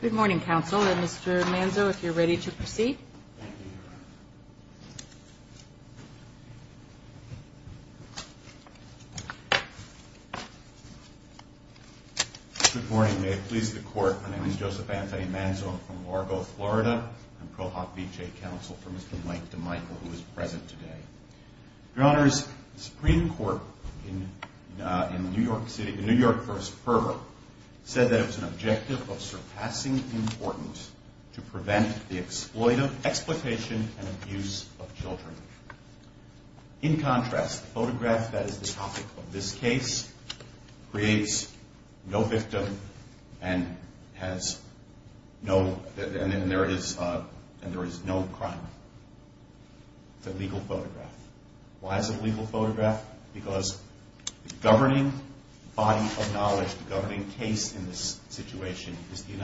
Good morning, counsel, and Mr. Manzo, if you're ready to proceed. Thank you. Good morning. May it please the Court, my name is Joseph Anthony Manzo. I'm from Largo, Florida. I'm ProHopBJ counsel for Mr. Mike DiMichele, who is present today. Your Honors, the Supreme Court in New York City, in New York v. Ferber, said that it and abuse of children. In contrast, the photograph that is the topic of this case creates no victim and there is no crime. It's a legal photograph. Why is it a legal photograph? Because the governing body of knowledge, the governing case in this situation, is the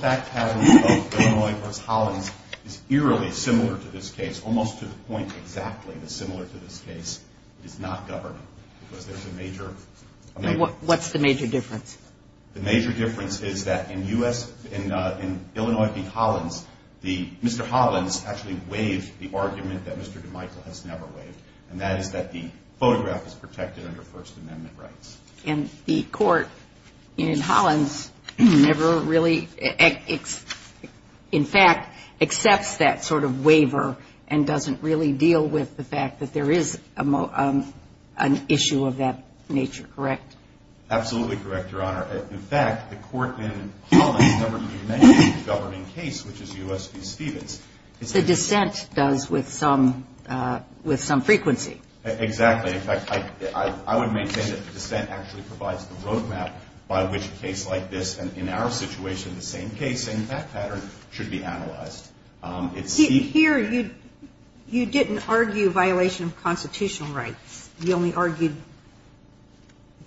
fact pattern of Illinois v. Hollins is eerily similar to this case, almost to the point exactly similar to this case. It is not governing. What's the major difference? The major difference is that in Illinois v. Hollins, Mr. Hollins actually waived the argument that Mr. DiMichele has never waived, and that is that the photograph is protected under First Amendment rights. And the Court in Hollins never really, in fact, accepts that sort of waiver and doesn't really deal with the fact that there is an issue of that nature, correct? Absolutely correct, Your Honor. In fact, the Court in Hollins never did mention the governing case, which is U.S. v. Stevens. The dissent does with some frequency. Exactly. In fact, I would maintain that the dissent actually provides the road map by which a case like this, and in our situation the same case, same fact pattern, should be analyzed. Here, you didn't argue violation of constitutional rights. You only argued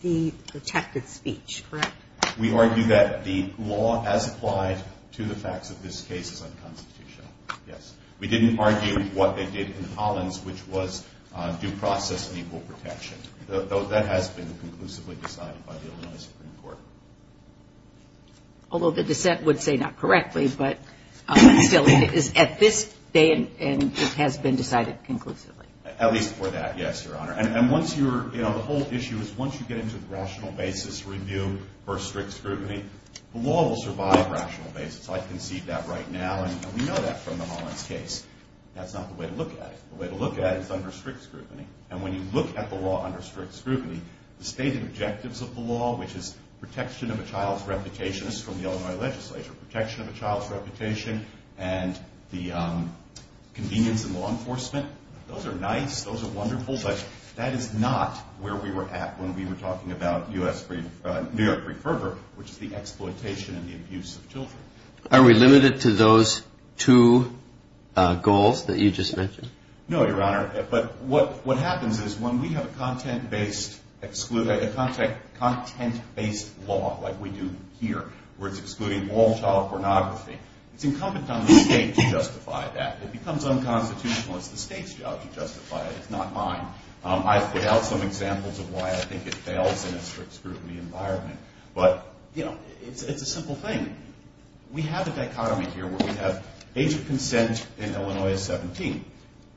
the protected speech, correct? We argued that the law as applied to the facts of this case is unconstitutional, yes. We didn't argue what they did in Hollins, which was due process and equal protection. That has been conclusively decided by the Illinois Supreme Court. Although the dissent would say not correctly, but still it is at this day and it has been decided conclusively. At least for that, yes, Your Honor. And once you're, you know, the whole issue is once you get into the rational basis review for strict scrutiny, the law will survive rational basis. I can see that right now, and we know that from the Hollins case. That's not the way to look at it. The way to look at it is under strict scrutiny. And when you look at the law under strict scrutiny, the stated objectives of the law, which is protection of a child's reputation, this is from the Illinois legislature, protection of a child's reputation and the convenience in law enforcement, those are nice, those are wonderful, but that is not where we were at when we were talking about U.S. v. New York, which is the exploitation and the abuse of children. Are we limited to those two goals that you just mentioned? No, Your Honor. But what happens is when we have a content-based law like we do here, where it's excluding all child pornography, it's incumbent on the state to justify that. It becomes unconstitutional. It's the state's job to justify it. It's not mine. I've put out some examples of why I think it fails in a strict scrutiny environment. But, you know, it's a simple thing. We have a dichotomy here where we have age of consent in Illinois is 17.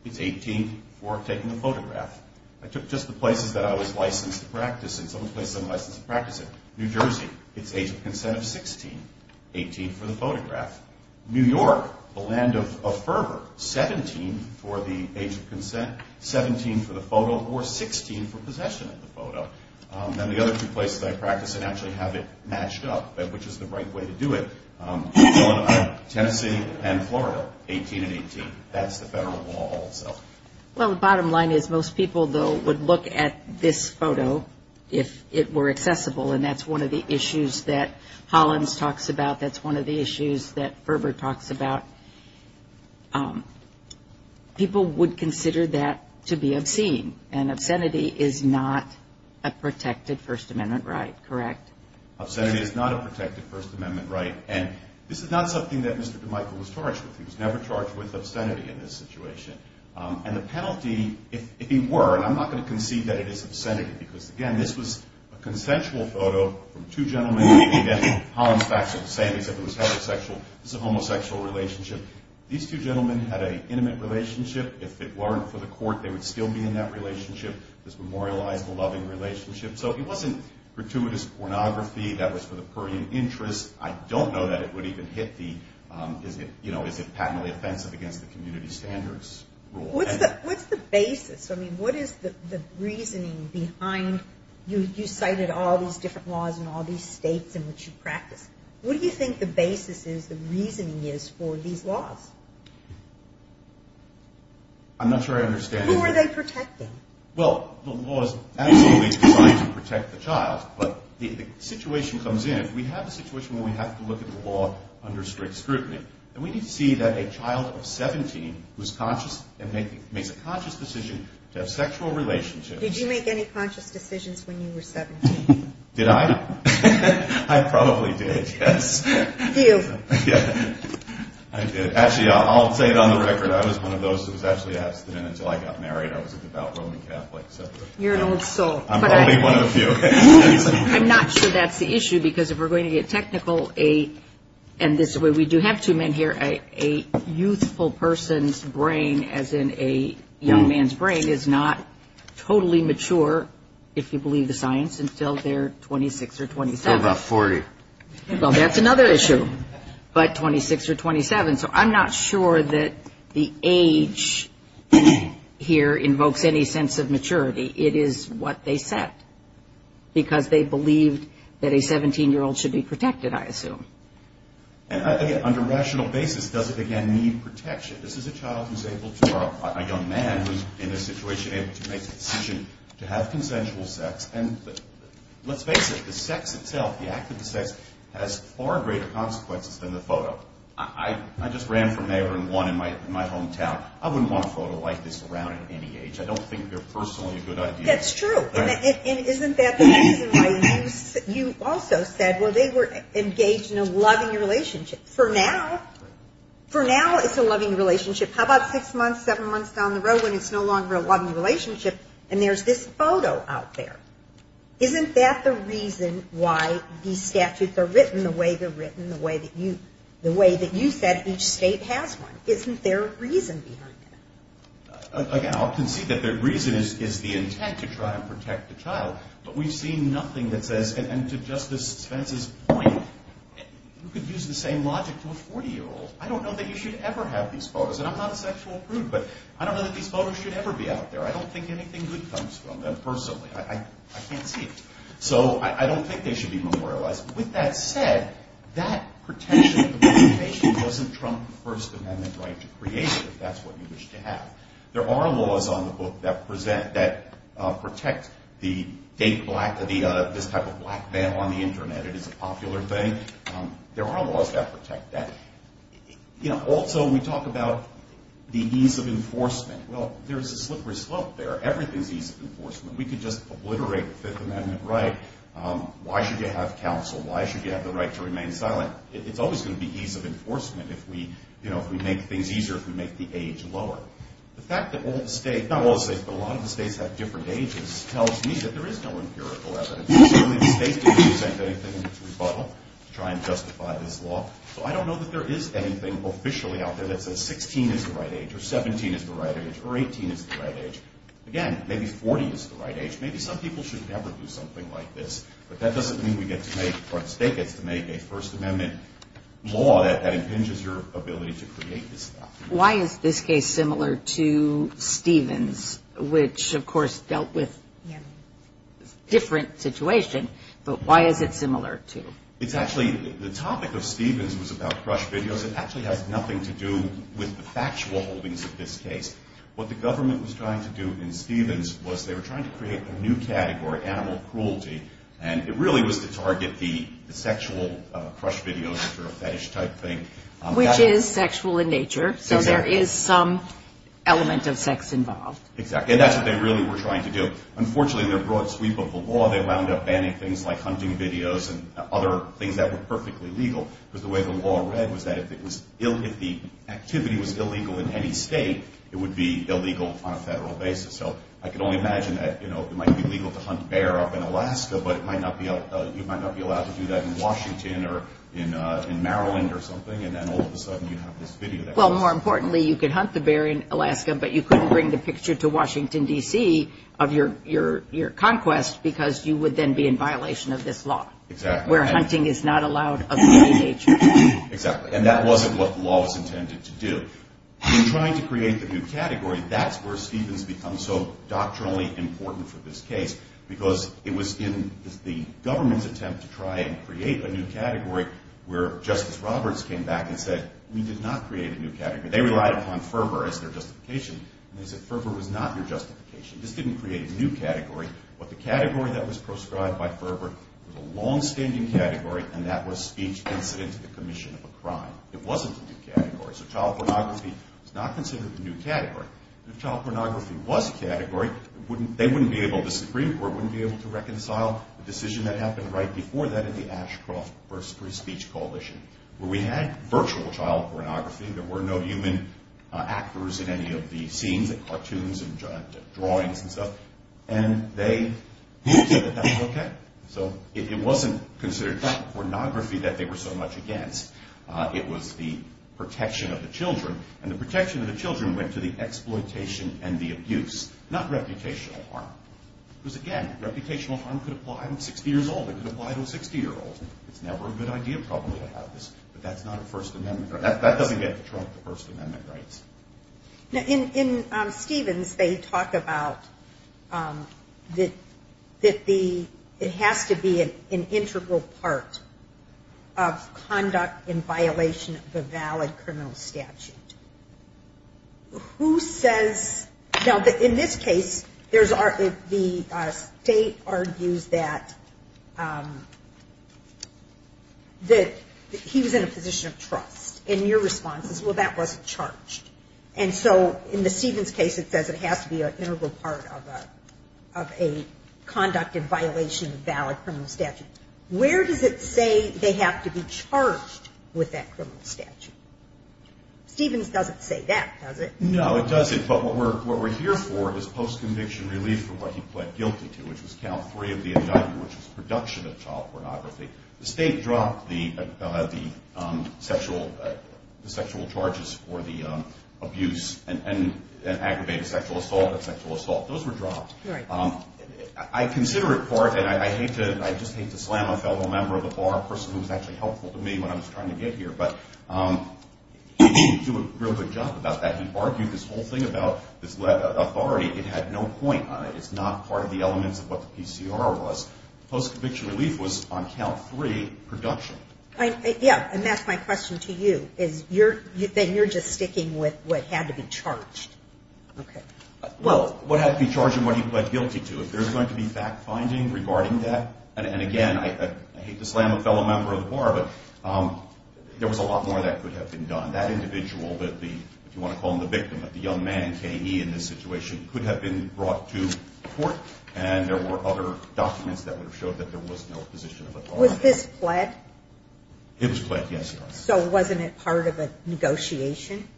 It's 18 for taking a photograph. I took just the places that I was licensed to practice in, some of the places I'm licensed to practice in. New Jersey, it's age of consent of 16, 18 for the photograph. New York, the land of fervor, 17 for the age of consent, 17 for the photo, or 16 for possession of the photo. Then the other two places I practice in actually have it matched up, which is the right way to do it. Tennessee and Florida, 18 and 18. That's the federal law also. Well, the bottom line is most people, though, would look at this photo if it were accessible, and that's one of the issues that Hollins talks about. That's one of the issues that to be obscene, and obscenity is not a protected First Amendment right, correct? Obscenity is not a protected First Amendment right, and this is not something that Mr. DeMichiel was charged with. He was never charged with obscenity in this situation. And the penalty, if he were, and I'm not going to concede that it is obscenity because, again, this was a consensual photo from two gentlemen. Again, Hollins facts are the same. He said it was heterosexual. This is a homosexual relationship. These two gentlemen had an intimate relationship. If it weren't for the court, they would still be in that relationship, this memorializable, loving relationship. So it wasn't gratuitous pornography. That was for the purrient interest. I don't know that it would even hit the, you know, is it patently offensive against the community standards rule. What's the basis? I mean, what is the reasoning behind, you cited all these different laws in all these states in which you practice. What do you think the basis is, the reasoning is for these laws? I'm not sure I understand. Who are they protecting? Well, the law is absolutely designed to protect the child, but the situation comes in, we have a situation where we have to look at the law under strict scrutiny. And we need to see that a child of 17 who is conscious and makes a conscious decision to have sexual relationships. Did you make any conscious decisions when you were 17? Did I? I probably did, yes. You. I did. Actually, I'll say it on the record, I was one of those who was actually asked until I got married, I was a devout Roman Catholic. You're an old soul. I'm probably one of the few. I'm not sure that's the issue, because if we're going to get technical, and this is where we do have two men here, a youthful person's brain, as in a young man's brain, is not totally mature, if you believe the science, until they're 26 or 27. So about 40. Well, that's another issue. But 26 or 27. So I'm not sure that the age here invokes any sense of maturity. It is what they said. Because they believed that a 17-year-old should be protected, I assume. And, again, on a rational basis, does it, again, need protection? This is a child who's able to, or a young man who's in this situation, able to make a decision to have consensual sex. And let's face it, the sex itself, the act of the sex, has far greater consequences than the photo. I just ran from neighbor and won in my hometown. I wouldn't want a photo like this around at any age. I don't think they're personally a good idea. That's true. And isn't that the reason why you also said, well, they were engaged in a loving relationship. For now, for now, it's a loving relationship. How about six months, seven months down the road when it's no longer a loving relationship and there's this photo out there? Isn't that the reason why these statutes are written the way they're written, the way that you said each state has one? Isn't there a reason behind it? Again, I'll concede that the reason is the intent to try and protect the child. But we've seen nothing that says, and to Justice Spence's point, who could use the same logic to a 40-year-old? I don't know that you should ever have these photos. And I'm not a sexual prude. But I don't know that these photos should ever be out there. I don't think anything good comes from them personally. I can't see it. So I don't think they should be memorialized. With that said, that protection of the representation doesn't trump the First Amendment right to create it, if that's what you wish to have. There are laws on the book that protect the date black, this type of black veil on the Internet. It is a popular thing. There are laws that protect that. Also, we talk about the ease of enforcement. Well, there's a slippery slope there. Everything's ease of enforcement. We could just obliterate the Fifth Amendment right. Why should you have counsel? Why should you have the right to remain silent? It's always going to be ease of enforcement if we make things easier, if we make the age lower. The fact that all the states, not all the states, but a lot of the states have different ages tells me that there is no empirical evidence. Certainly the states didn't present anything in its rebuttal to try and justify this law. So I don't know that there is anything officially out there that says 16 is the right age, or 17 is the right age, or 18 is the right age. Again, maybe 40 is the right age. Maybe some people should never do something like this, but that doesn't mean we get to make, or the state gets to make a First Amendment law that impinges your ability to create this stuff. Why is this case similar to Stevens, which, of course, dealt with a different situation, but why is it similar to? It's actually, the topic of Stevens was about crush videos. It actually has nothing to do with the factual holdings of this case. What the government was trying to do in Stevens was they were trying to create a new category, animal cruelty, and it really was to target the sexual crush videos, which are a fetish-type thing. Which is sexual in nature, so there is some element of sex involved. Exactly, and that's what they really were trying to do. Unfortunately, in their broad sweep of the law, they wound up banning things like hunting videos and other things that were perfectly legal. The way the law read was that if the activity was illegal in any state, it would be illegal on a federal basis. I can only imagine that it might be legal to hunt bear up in Alaska, but you might not be allowed to do that in Washington or in Maryland or something, and then all of a sudden you have this video. Well, more importantly, you could hunt the bear in Alaska, but you couldn't bring the picture to Washington, D.C. of your conquest because you would then be in violation of this law where hunting is not allowed of any nature. Exactly, and that wasn't what the law was intended to do. In trying to create the new category, that's where Stevens becomes so doctrinally important for this case because it was in the government's attempt to try and create a new category where Justice Roberts came back and said, we did not create a new category. They relied upon fervor as their justification, and they said, fervor was not your justification. This didn't create a new category. But the category that was proscribed by fervor was a longstanding category, and that was speech incident to the commission of a crime. It wasn't a new category. So child pornography was not considered a new category. And if child pornography was a category, they wouldn't be able to, the Supreme Court wouldn't be able to reconcile the decision that happened right before that in the Ashcroft v. Free Speech Coalition, where we had virtual child pornography. There were no human actors in any of the scenes, the cartoons and drawings and stuff, and they knew that that was okay. So it wasn't considered child pornography that they were so much against. It was the protection of the children, and the protection of the children went to the exploitation and the abuse, not reputational harm. Because, again, reputational harm could apply. I'm 60 years old. It could apply to a 60-year-old. It's never a good idea probably to have this, but that's not a First Amendment right. That doesn't get to trump the First Amendment rights. Now, in Stevens, they talk about that it has to be an integral part of conduct in violation of a valid criminal statute. Who says? Now, in this case, the state argues that he was in a position of trust, and your response is, well, that wasn't charged. And so in the Stevens case, it says it has to be an integral part of a conduct in violation of a valid criminal statute. Where does it say they have to be charged with that criminal statute? Stevens doesn't say that, does it? No, it doesn't. But what we're here for is post-conviction relief for what he pled guilty to, which was count three of the indictment, which was production of child pornography. The state dropped the sexual charges for the abuse and aggravated sexual assault and sexual assault. Those were dropped. I consider it part, and I just hate to slam a fellow member of the bar, a person who was actually helpful to me when I was trying to get here, but he didn't do a real good job about that. He argued this whole thing about authority. It had no point on it. It's not part of the elements of what the PCR was. Post-conviction relief was on count three, production. Yeah, and that's my question to you. Then you're just sticking with what had to be charged. Okay. Well, what had to be charged and what he pled guilty to. If there's going to be fact-finding regarding that, and again, I hate to slam a fellow member of the bar, but there was a lot more that could have been done. That individual, if you want to call him the victim, the young man, K.E. in this situation, could have been brought to court, and there were other documents that would have showed that there was no position of authority. Was this pled? It was pled, yes, Your Honor. So wasn't it part of a negotiation?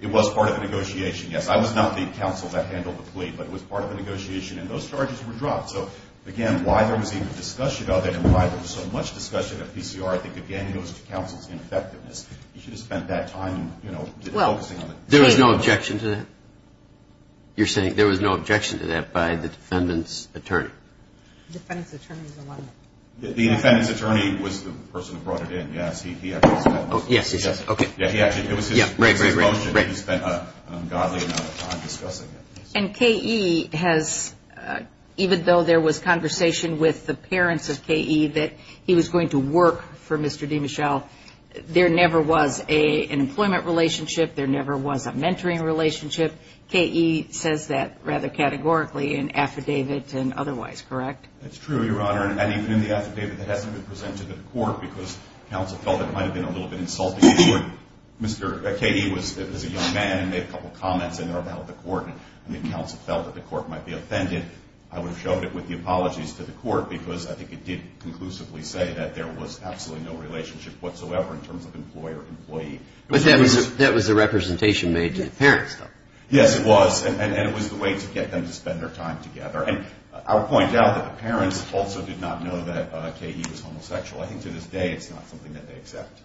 It was part of a negotiation, yes. I was not the counsel that handled the plea, but it was part of a negotiation, and those charges were dropped. So, again, why there was even discussion of it and why there was so much discussion of PCR, I think, again, goes to counsel's ineffectiveness. He should have spent that time focusing on the case. There was no objection to that? You're saying there was no objection to that by the defendant's attorney? The defendant's attorney's alignment. The defendant's attorney was the person who brought it in, yes. He actually was the one. Yes, he was. Okay. It was his motion that he spent an ungodly amount of time discussing it. And K.E. has, even though there was conversation with the parents of K.E. that he was going to work for Mr. DeMichel, there never was an employment relationship, there never was a mentoring relationship. K.E. says that rather categorically in affidavit and otherwise, correct? That's true, Your Honor. And even in the affidavit that hasn't been presented to the court because counsel felt it might have been a little bit insulting to the court, K.E. was a young man and made a couple of comments in there about the court, and the counsel felt that the court might be offended. I would have showed it with the apologies to the court because I think it did conclusively say that there was absolutely no relationship whatsoever in terms of employer-employee. But that was a representation made to the parents, though. Yes, it was. And it was the way to get them to spend their time together. And I'll point out that the parents also did not know that K.E. was homosexual. I think to this day it's not something that they accept.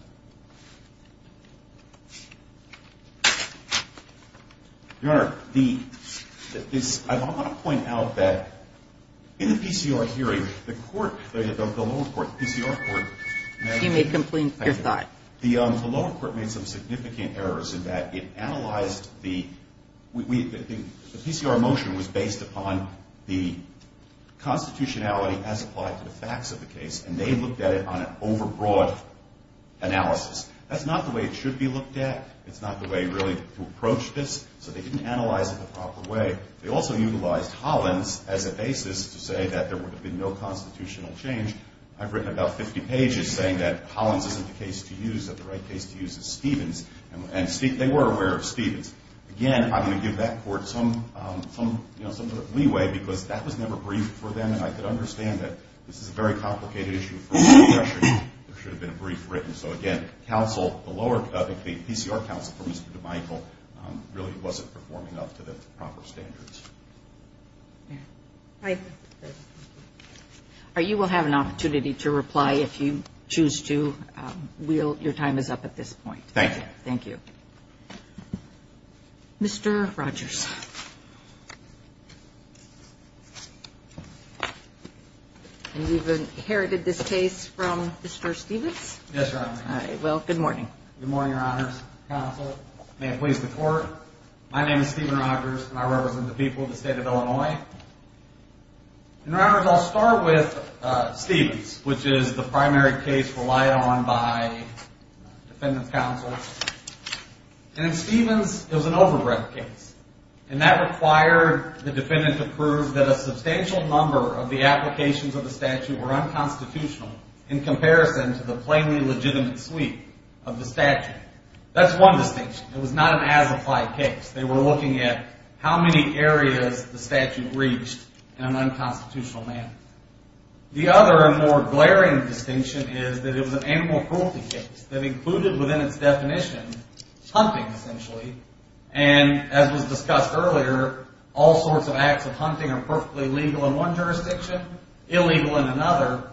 Your Honor, I want to point out that in the PCR hearing, the court, the lower court, the PCR court, You may complete your thought. the lower court made some significant errors in that it analyzed the PCR motion was based upon the constitutionality as applied to the facts of the case, and they looked at it on an overbroad analysis. That's not the way it should be looked at. It's not the way, really, to approach this. So they didn't analyze it the proper way. They also utilized Hollins as a basis to say that there would have been no constitutional change. I've written about 50 pages saying that Hollins isn't the case to use, that the right case to use is Stevens. And they were aware of Stevens. Again, I'm going to give that court some sort of leeway because that was never briefed for them, and I could understand that this is a very complicated issue for the professor. There should have been a brief written. So, again, counsel, the lower, the PCR counsel, really wasn't performing up to the proper standards. All right. You will have an opportunity to reply if you choose to. Your time is up at this point. Thank you. Thank you. Mr. Rogers. You've inherited this case from Mr. Stevens? Yes, Your Honor. Well, good morning. Good morning, Your Honors. Counsel, may it please the Court, my name is Steven Rogers, and I represent the people of the State of Illinois. And, Your Honors, I'll start with Stevens, which is the primary case relied on by defendant's counsel. And in Stevens, it was an overbreadth case, and that required the defendant to prove that a substantial number of the applications of the statute were unconstitutional in comparison to the plainly legitimate suite of the statute. That's one distinction. It was not an as-applied case. They were looking at how many areas the statute reached in an unconstitutional manner. The other and more glaring distinction is that it was an animal cruelty case that included within its definition hunting, essentially. And as was discussed earlier, all sorts of acts of hunting are perfectly legal in one jurisdiction, illegal in another.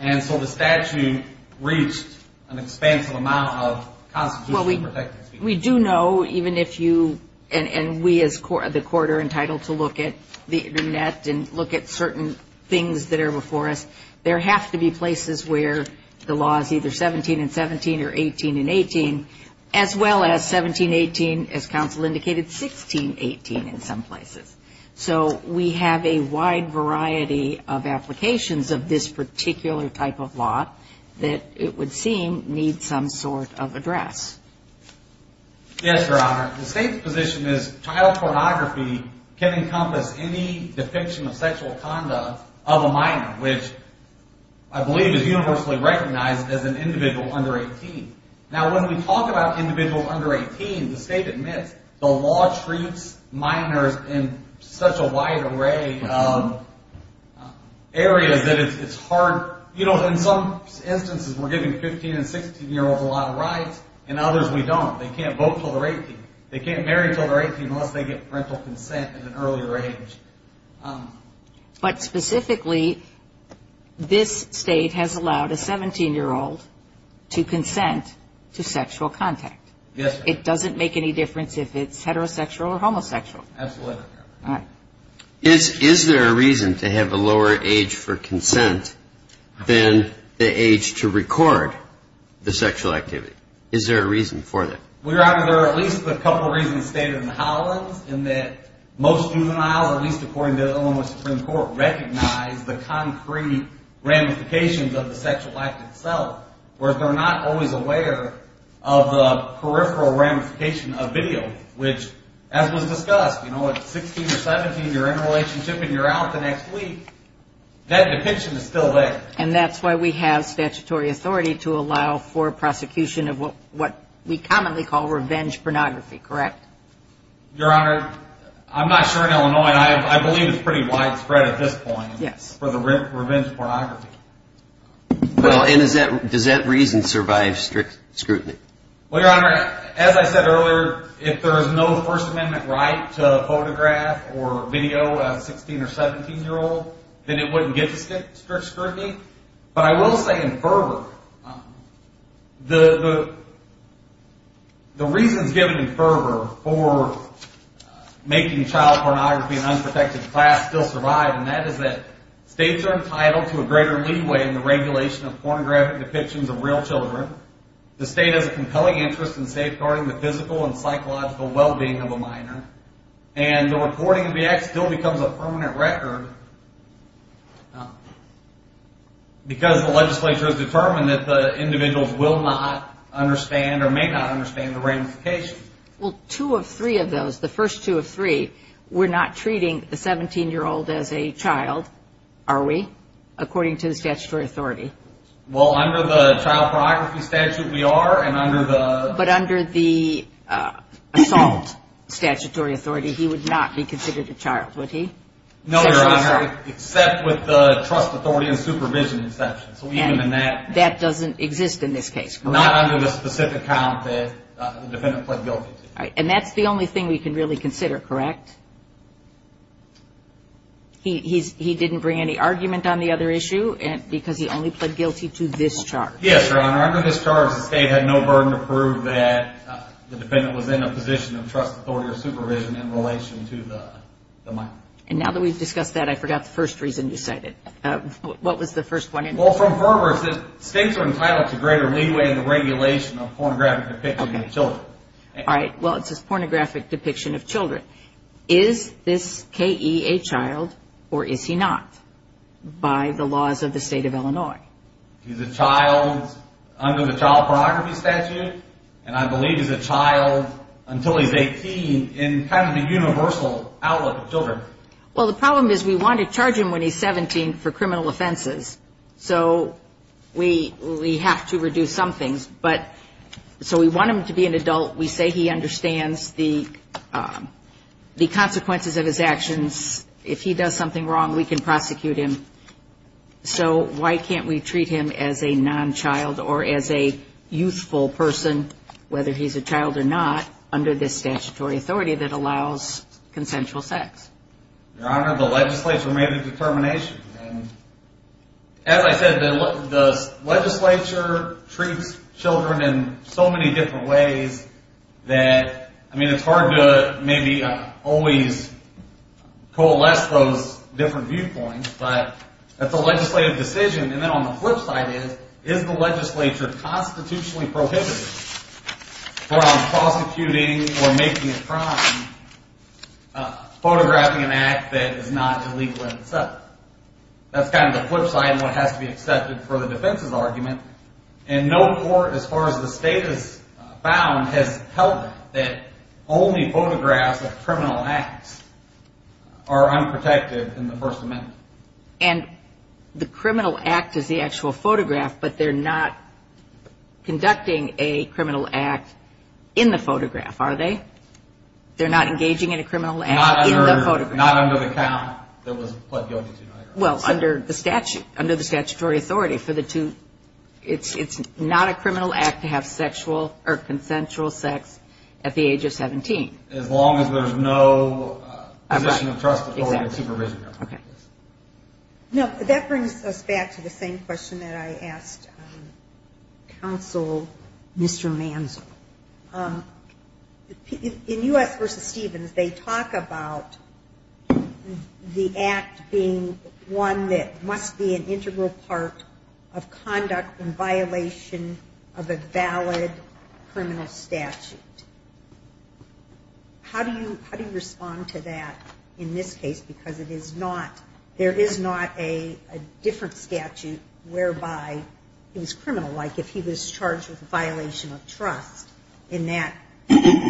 And so the statute reached an expansive amount of constitutionally protected species. We do know, even if you and we as the Court are entitled to look at the Internet and look at certain things that are before us, there have to be places where the law is either 17 and 17 or 18 and 18, as well as 17, 18, as counsel indicated, 16, 18 in some places. So we have a wide variety of applications of this particular type of law that it would seem need some sort of address. Yes, Your Honor. The State's position is child pornography can encompass any definition of sexual conduct of a minor, which I believe is universally recognized as an individual under 18. Now, when we talk about individuals under 18, the State admits the law treats minors in such a wide array of areas that it's hard. You know, in some instances we're giving 15 and 16-year-olds a lot of rights and others we don't. They can't vote until they're 18. They can't marry until they're 18 unless they get parental consent at an earlier age. But specifically, this State has allowed a 17-year-old to consent to sexual contact. Yes, Your Honor. It doesn't make any difference if it's heterosexual or homosexual. Absolutely, Your Honor. All right. Is there a reason to have a lower age for consent than the age to record the sexual activity? Is there a reason for that? Well, Your Honor, there are at least a couple reasons stated in the Hollins in that most juvenile, at least according to Illinois Supreme Court, recognize the concrete ramifications of the sexual act itself, whereas they're not always aware of the peripheral ramification of video, which, as was discussed, you know, if at 16 or 17 you're in a relationship and you're out the next week, that depiction is still there. And that's why we have statutory authority to allow for prosecution of what we commonly call revenge pornography, correct? Your Honor, I'm not sure in Illinois, and I believe it's pretty widespread at this point for the revenge pornography. Well, and does that reason survive scrutiny? Well, Your Honor, as I said earlier, if there is no First Amendment right to photograph or video a 16 or 17-year-old, then it wouldn't get to strict scrutiny. But I will say in fervor, the reasons given in fervor for making child pornography an unprotected class still survive, and that is that states are entitled to a greater leeway in the regulation of pornographic depictions of real children. The state has a compelling interest in safeguarding the physical and psychological well-being of a minor, and the reporting of the act still becomes a permanent record because the legislature has determined that the individuals will not understand or may not understand the ramification. Well, two of three of those, the first two of three, we're not treating the 17-year-old as a child, are we, according to the statutory authority? Well, under the child pornography statute, we are, and under the... But under the assault statutory authority, he would not be considered a child, would he? No, Your Honor, except with the trust authority and supervision exception. So even in that... And that doesn't exist in this case, correct? Not under the specific count that the defendant pled guilty to. And that's the only thing we can really consider, correct? He didn't bring any argument on the other issue because he only pled guilty to this charge. Yes, Your Honor, under this charge, the state had no burden to prove that the defendant was in a position of trust authority or supervision in relation to the minor. And now that we've discussed that, I forgot the first reason you cited. What was the first one? Well, from far worse, states are entitled to greater leeway in the regulation of pornographic depictions of children. All right, well, it says pornographic depiction of children. Is this K.E. a child or is he not by the laws of the state of Illinois? He's a child under the child pornography statute, and I believe he's a child until he's 18 in kind of the universal outlook of children. Well, the problem is we want to charge him when he's 17 for criminal offenses, so we have to reduce some things. But so we want him to be an adult. We say he understands the consequences of his actions. If he does something wrong, we can prosecute him. So why can't we treat him as a non-child or as a youthful person, whether he's a child or not, under this statutory authority that allows consensual sex? Your Honor, the legislature made a determination. As I said, the legislature treats children in so many different ways that, I mean, it's hard to maybe always coalesce those different viewpoints, but that's a legislative decision. And then on the flip side is, is the legislature constitutionally prohibited from prosecuting or making a crime photographing an act that is not illegal in itself. That's kind of the flip side and what has to be accepted for the defense's argument. And no court, as far as the state has found, has held that only photographs of criminal acts are unprotected in the First Amendment. And the criminal act is the actual photograph, but they're not conducting a criminal act in the photograph, are they? They're not engaging in a criminal act in the photograph. Not under the count that was pled guilty to murder. Well, under the statute, under the statutory authority for the two. It's not a criminal act to have sexual or consensual sex at the age of 17. As long as there's no position of trust before the supervision. No, that brings us back to the same question that I asked Counsel Mr. Manzo. In U.S. v. Stevens, they talk about the act being one that must be an integral part of conduct in violation of a valid criminal statute. How do you respond to that in this case? Because there is not a different statute whereby he was criminal. Like if he was charged with a violation of trust in that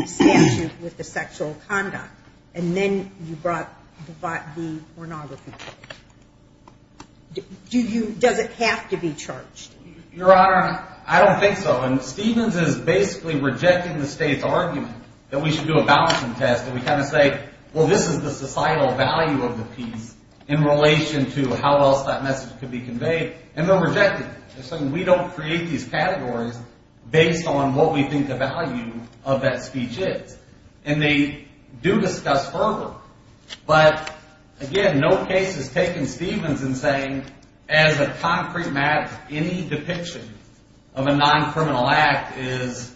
statute with the sexual conduct. And then you brought the pornography. Does it have to be charged? Your Honor, I don't think so. And Stevens is basically rejecting the state's argument that we should do a balancing test. And we kind of say, well, this is the societal value of the piece in relation to how else that message could be conveyed. And they're rejecting it. They're saying we don't create these categories based on what we think the value of that speech is. And they do discuss further. But, again, no case is taking Stevens and saying, as a concrete matter, any depiction of a non-criminal act is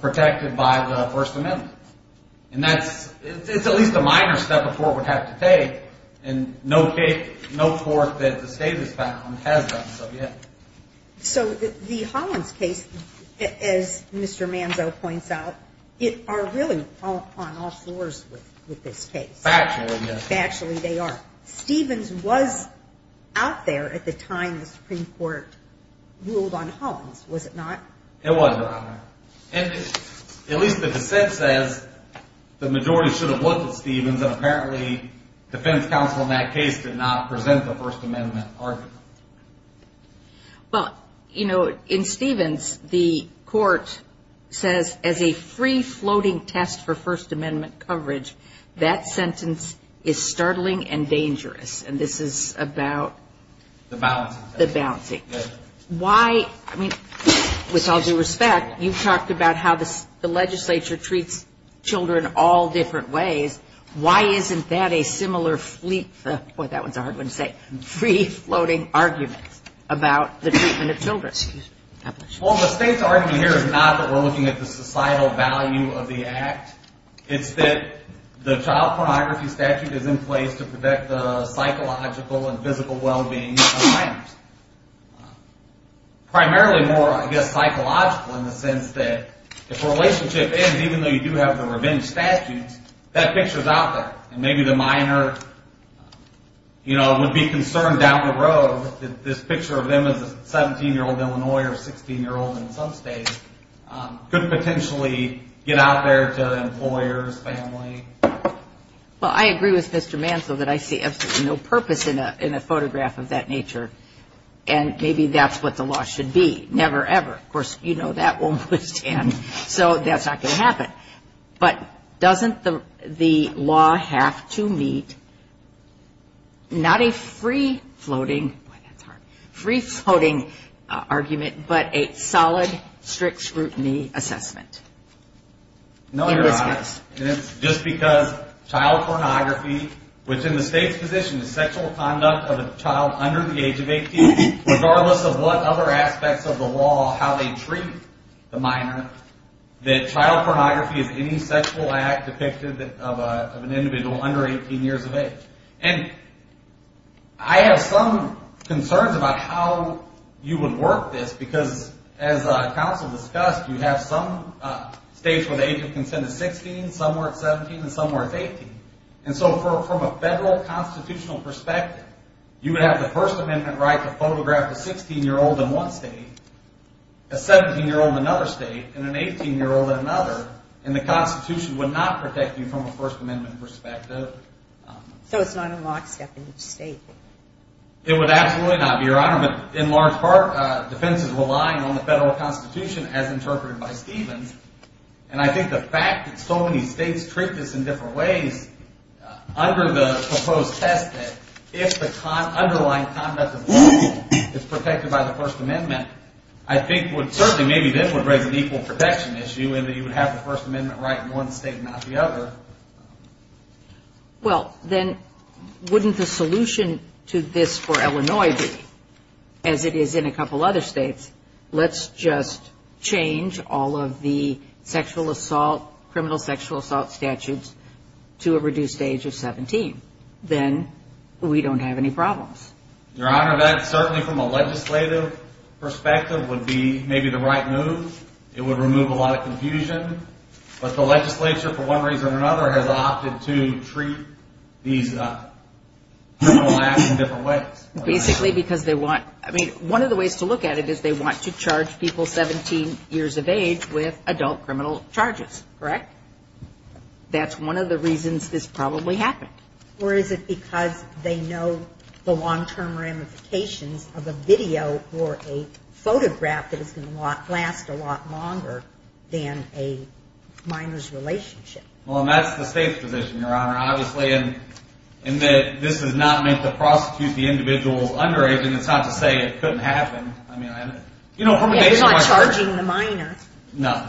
protected by the First Amendment. And that's at least a minor step a court would have to take. And no court that the state has found has done so yet. So the Hollins case, as Mr. Manzo points out, it are really on all fours with this case. Factually, yes. Factually, they are. Stevens was out there at the time the Supreme Court ruled on Hollins, was it not? It was, Your Honor. And at least the dissent says the majority should have looked at Stevens, and apparently defense counsel in that case did not present the First Amendment argument. Well, you know, in Stevens, the court says as a free-floating test for First Amendment coverage, that sentence is startling and dangerous. And this is about? The balancing test. The balancing. Why? I mean, with all due respect, you've talked about how the legislature treats children all different ways. Why isn't that a similar fleet? Boy, that one's a hard one to say. Free-floating argument about the treatment of children. Well, the state's argument here is not that we're looking at the societal value of the act. It's that the child pornography statute is in place to protect the psychological and physical well-being of minors. Primarily more, I guess, psychological in the sense that if a relationship ends, even though you do have the revenge statutes, that picture's out there. And maybe the minor, you know, would be concerned down the road that this picture of them as a 17-year-old Illinois or a 16-year-old in some states could potentially get out there to employers, family. Well, I agree with Mr. Manso that I see absolutely no purpose in a photograph of that nature. And maybe that's what the law should be. Never, ever. Of course, you know that won't withstand. So that's not going to happen. But doesn't the law have to meet not a free-floating argument, but a solid strict scrutiny assessment? No, Your Honor. And it's just because child pornography within the state's position is sexual conduct of a child under the age of 18, regardless of what other aspects of the law, how they treat the minor, that child pornography is any sexual act depicted of an individual under 18 years of age. And I have some concerns about how you would work this because, as counsel discussed, you have some states where the age of consent is 16, some where it's 17, and some where it's 18. And so from a federal constitutional perspective, you would have the First Amendment right to photograph a 16-year-old in one state, a 17-year-old in another state, and an 18-year-old in another. And the Constitution would not protect you from a First Amendment perspective. So it's not a lockstep in each state? It would absolutely not be, Your Honor. But in large part, defense is relying on the federal Constitution as interpreted by Stevens. And I think the fact that so many states treat this in different ways under the proposed test that if the underlying conduct of the law is protected by the First Amendment, I think would certainly maybe then would raise an equal protection issue in that you would have the First Amendment right in one state and not the other. Well, then wouldn't the solution to this for Illinois be, as it is in a couple other states, let's just change all of the sexual assault, criminal sexual assault statutes to a reduced age of 17. Then we don't have any problems. Your Honor, that certainly from a legislative perspective would be maybe the right move. It would remove a lot of confusion. But the legislature, for one reason or another, has opted to treat these criminal acts in different ways. Basically because they want, I mean, one of the ways to look at it is they want to charge people 17 years of age with adult criminal charges, correct? That's one of the reasons this probably happened. Or is it because they know the long-term ramifications of a video or a photograph that is going to last a lot longer than a minor's relationship? Well, and that's the state's position, Your Honor. Obviously, in that this does not make the prosecutor the individual's underage, and it's not to say it couldn't happen. I mean, you know, from a legislative perspective. Yeah, they're not charging the minor. No.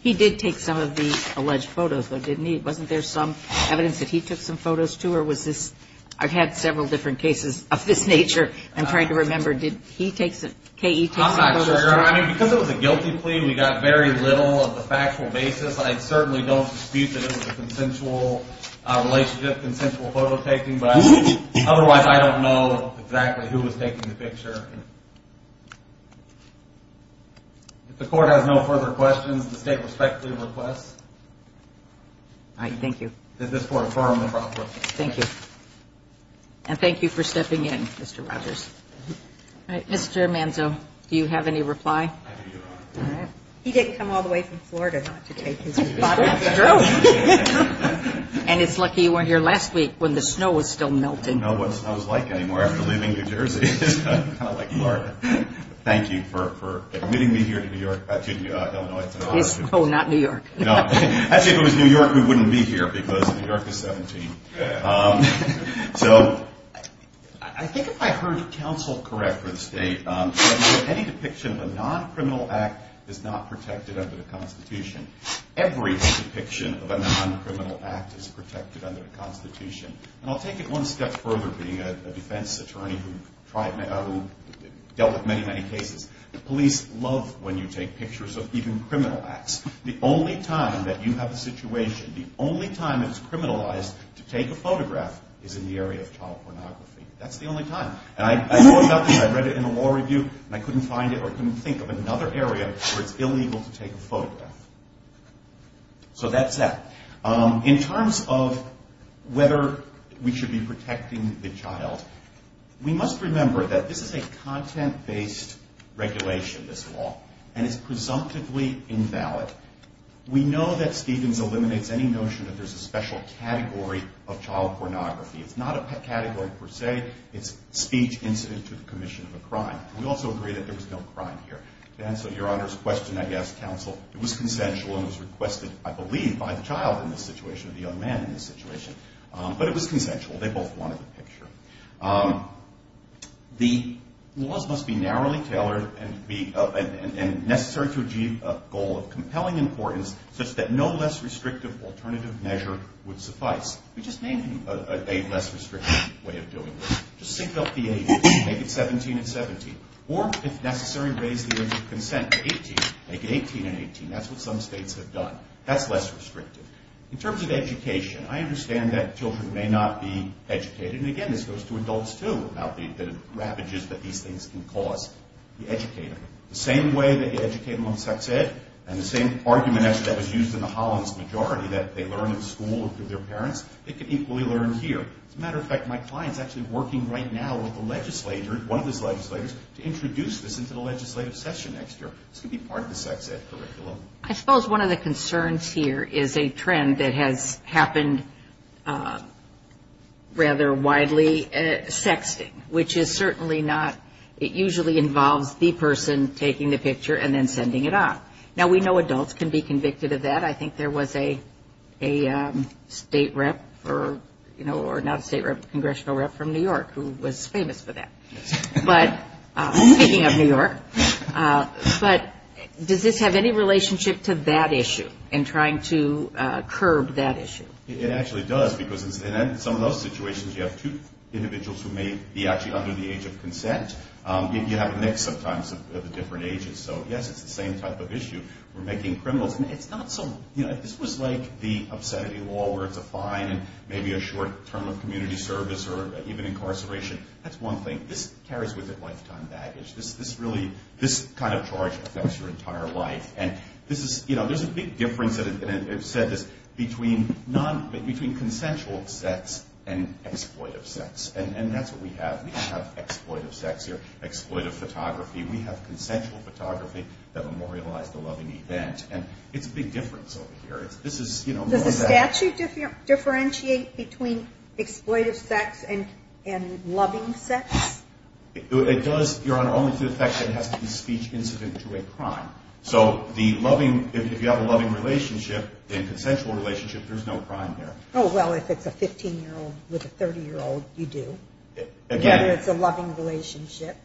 He did take some of the alleged photos, though, didn't he? Wasn't there some evidence that he took some photos, too, or was this? I've had several different cases of this nature. I'm trying to remember. Did he take some photos? I'm not sure, Your Honor. I mean, because it was a guilty plea, we got very little of the factual basis. I certainly don't dispute that it was a consensual relationship, consensual photo taking. But otherwise, I don't know exactly who was taking the picture. If the court has no further questions, the state respectfully requests that this court affirm the property. Thank you. And thank you for stepping in, Mr. Rogers. All right, Mr. Manzo, do you have any reply? I do, Your Honor. All right. He didn't come all the way from Florida not to take his photos. That's true. And it's lucky you weren't here last week when the snow was still melting. I don't know what snow is like anymore after leaving New Jersey. It's kind of like Florida. Thank you for admitting me here to New York. Excuse me, Illinois. Oh, not New York. Actually, if it was New York, we wouldn't be here because New York is 17. So I think if I heard counsel correct for the state, any depiction of a non-criminal act is not protected under the Constitution. Every depiction of a non-criminal act is protected under the Constitution. And I'll take it one step further being a defense attorney who dealt with many, many cases. The police love when you take pictures of even criminal acts. The only time that you have a situation, the only time it's criminalized to take a photograph is in the area of child pornography. That's the only time. And I thought about this. I read it in a law review, and I couldn't find it or couldn't think of another area where it's illegal to take a photograph. So that's that. In terms of whether we should be protecting the child, we must remember that this is a content-based regulation, this law, and it's presumptively invalid. We know that Stevens eliminates any notion that there's a special category of child pornography. It's not a category per se. It's speech incident to the commission of a crime. We also agree that there was no crime here. To answer Your Honor's question, I guess, counsel, it was consensual and it was requested, I believe, by the child in this situation or the young man in this situation. But it was consensual. They both wanted the picture. The laws must be narrowly tailored and necessary to achieve a goal of compelling importance such that no less restrictive alternative measure would suffice. We just need a less restrictive way of doing this. Just sync up the ages. Make it 17 and 17. Or, if necessary, raise the age of consent to 18. Make it 18 and 18. That's what some states have done. That's less restrictive. In terms of education, I understand that children may not be educated. And, again, this goes to adults, too, about the ravages that these things can cause. The educator, the same way they educate them on sex ed and the same argument that was used in the Hollins majority that they learn in school or through their parents, they can equally learn here. As a matter of fact, my client is actually working right now with a legislator, one of his legislators, to introduce this into the legislative session next year. This could be part of the sex ed curriculum. I suppose one of the concerns here is a trend that has happened rather widely, sexting, which is certainly not, it usually involves the person taking the picture and then sending it off. Now, we know adults can be convicted of that. I think there was a state rep or not a state rep, a congressional rep from New York who was famous for that. Speaking of New York, does this have any relationship to that issue and trying to curb that issue? It actually does because in some of those situations you have two individuals who may be actually under the age of consent. You have a mix sometimes of the different ages. So, yes, it's the same type of issue. If this was like the obscenity law where it's a fine and maybe a short term of community service or even incarceration, that's one thing. This carries with it lifetime baggage. This kind of charge affects your entire life. There's a big difference, and I've said this, between consensual sex and exploitive sex. That's what we have. We don't have exploitive sex here, exploitive photography. We have consensual photography that memorialized a loving event, and it's a big difference over here. Does the statute differentiate between exploitive sex and loving sex? It does, Your Honor, only to the effect that it has to be speech incident to a crime. So if you have a loving relationship, a consensual relationship, there's no crime there. Oh, well, if it's a 15-year-old with a 30-year-old, you do. Again. Whether it's a loving relationship.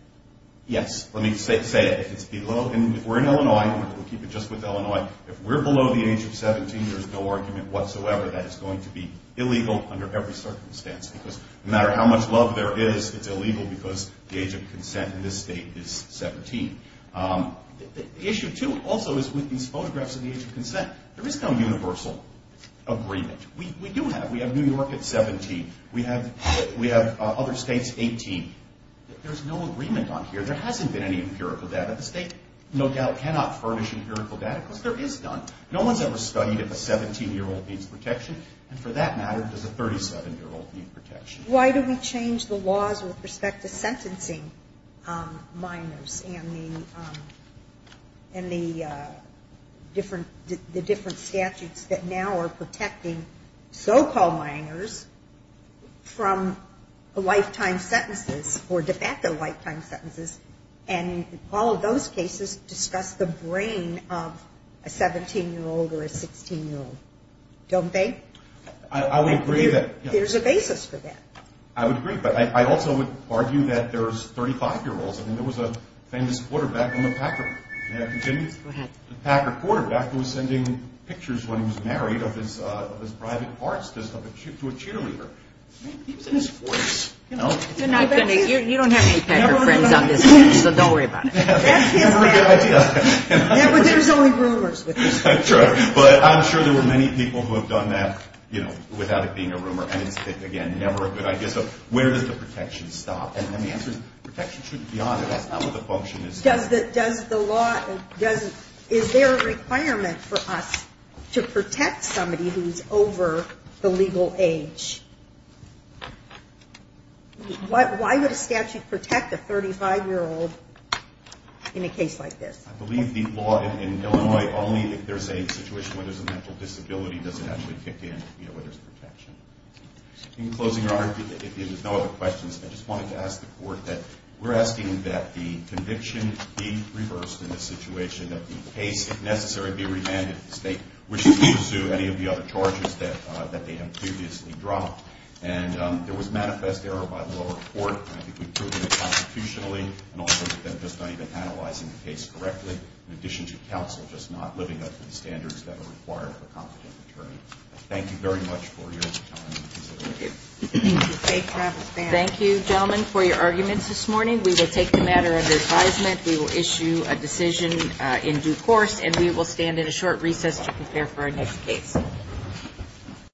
Yes, let me say it. If we're in Illinois, and we'll keep it just with Illinois, if we're below the age of 17, there's no argument whatsoever that it's going to be illegal under every circumstance because no matter how much love there is, it's illegal because the age of consent in this state is 17. Issue two also is with these photographs of the age of consent. There is no universal agreement. We do have. We have New York at 17. We have other states 18. There's no agreement on here. There hasn't been any empirical data. The state no doubt cannot furnish empirical data because there is none. No one's ever studied if a 17-year-old needs protection, and for that matter does a 37-year-old need protection. Why do we change the laws with respect to sentencing minors and the different statutes that now are protecting so-called minors from lifetime sentences or de facto lifetime sentences? And all of those cases discuss the brain of a 17-year-old or a 16-year-old, don't they? I would agree that. There's a basis for that. I would agree. But I also would argue that there's 35-year-olds. There was a famous quarterback on the Packer. May I continue? Go ahead. The Packer quarterback was sending pictures when he was married of his private parts to a cheerleader. He was in his 40s. You don't have any Packer friends on this stage, so don't worry about it. That's a good idea. But there's only rumors. But I'm sure there were many people who have done that without it being a rumor, and it's, again, never a good idea. So where does the protection stop? And the answer is protection shouldn't be on it. That's not what the function is. Is there a requirement for us to protect somebody who's over the legal age? Why would a statute protect a 35-year-old in a case like this? I believe the law in Illinois, only if there's a situation where there's a mental disability does it actually kick in where there's protection. In closing, Your Honor, if there's no other questions, I just wanted to ask the Court that we're asking that the conviction be reversed in this situation, that the case, if necessary, be remanded to the state, which is due to sue any of the other charges that they have previously dropped. And there was manifest error by the lower court. I think we've proven it constitutionally and also with them just not even analyzing the case correctly, in addition to counsel just not living up to the standards that are required of a competent attorney. Thank you very much for your time and consideration. Thank you. Thank you, gentlemen, for your arguments this morning. We will take the matter under advisement. We will issue a decision in due course, and we will stand in a short recess to prepare for our next case.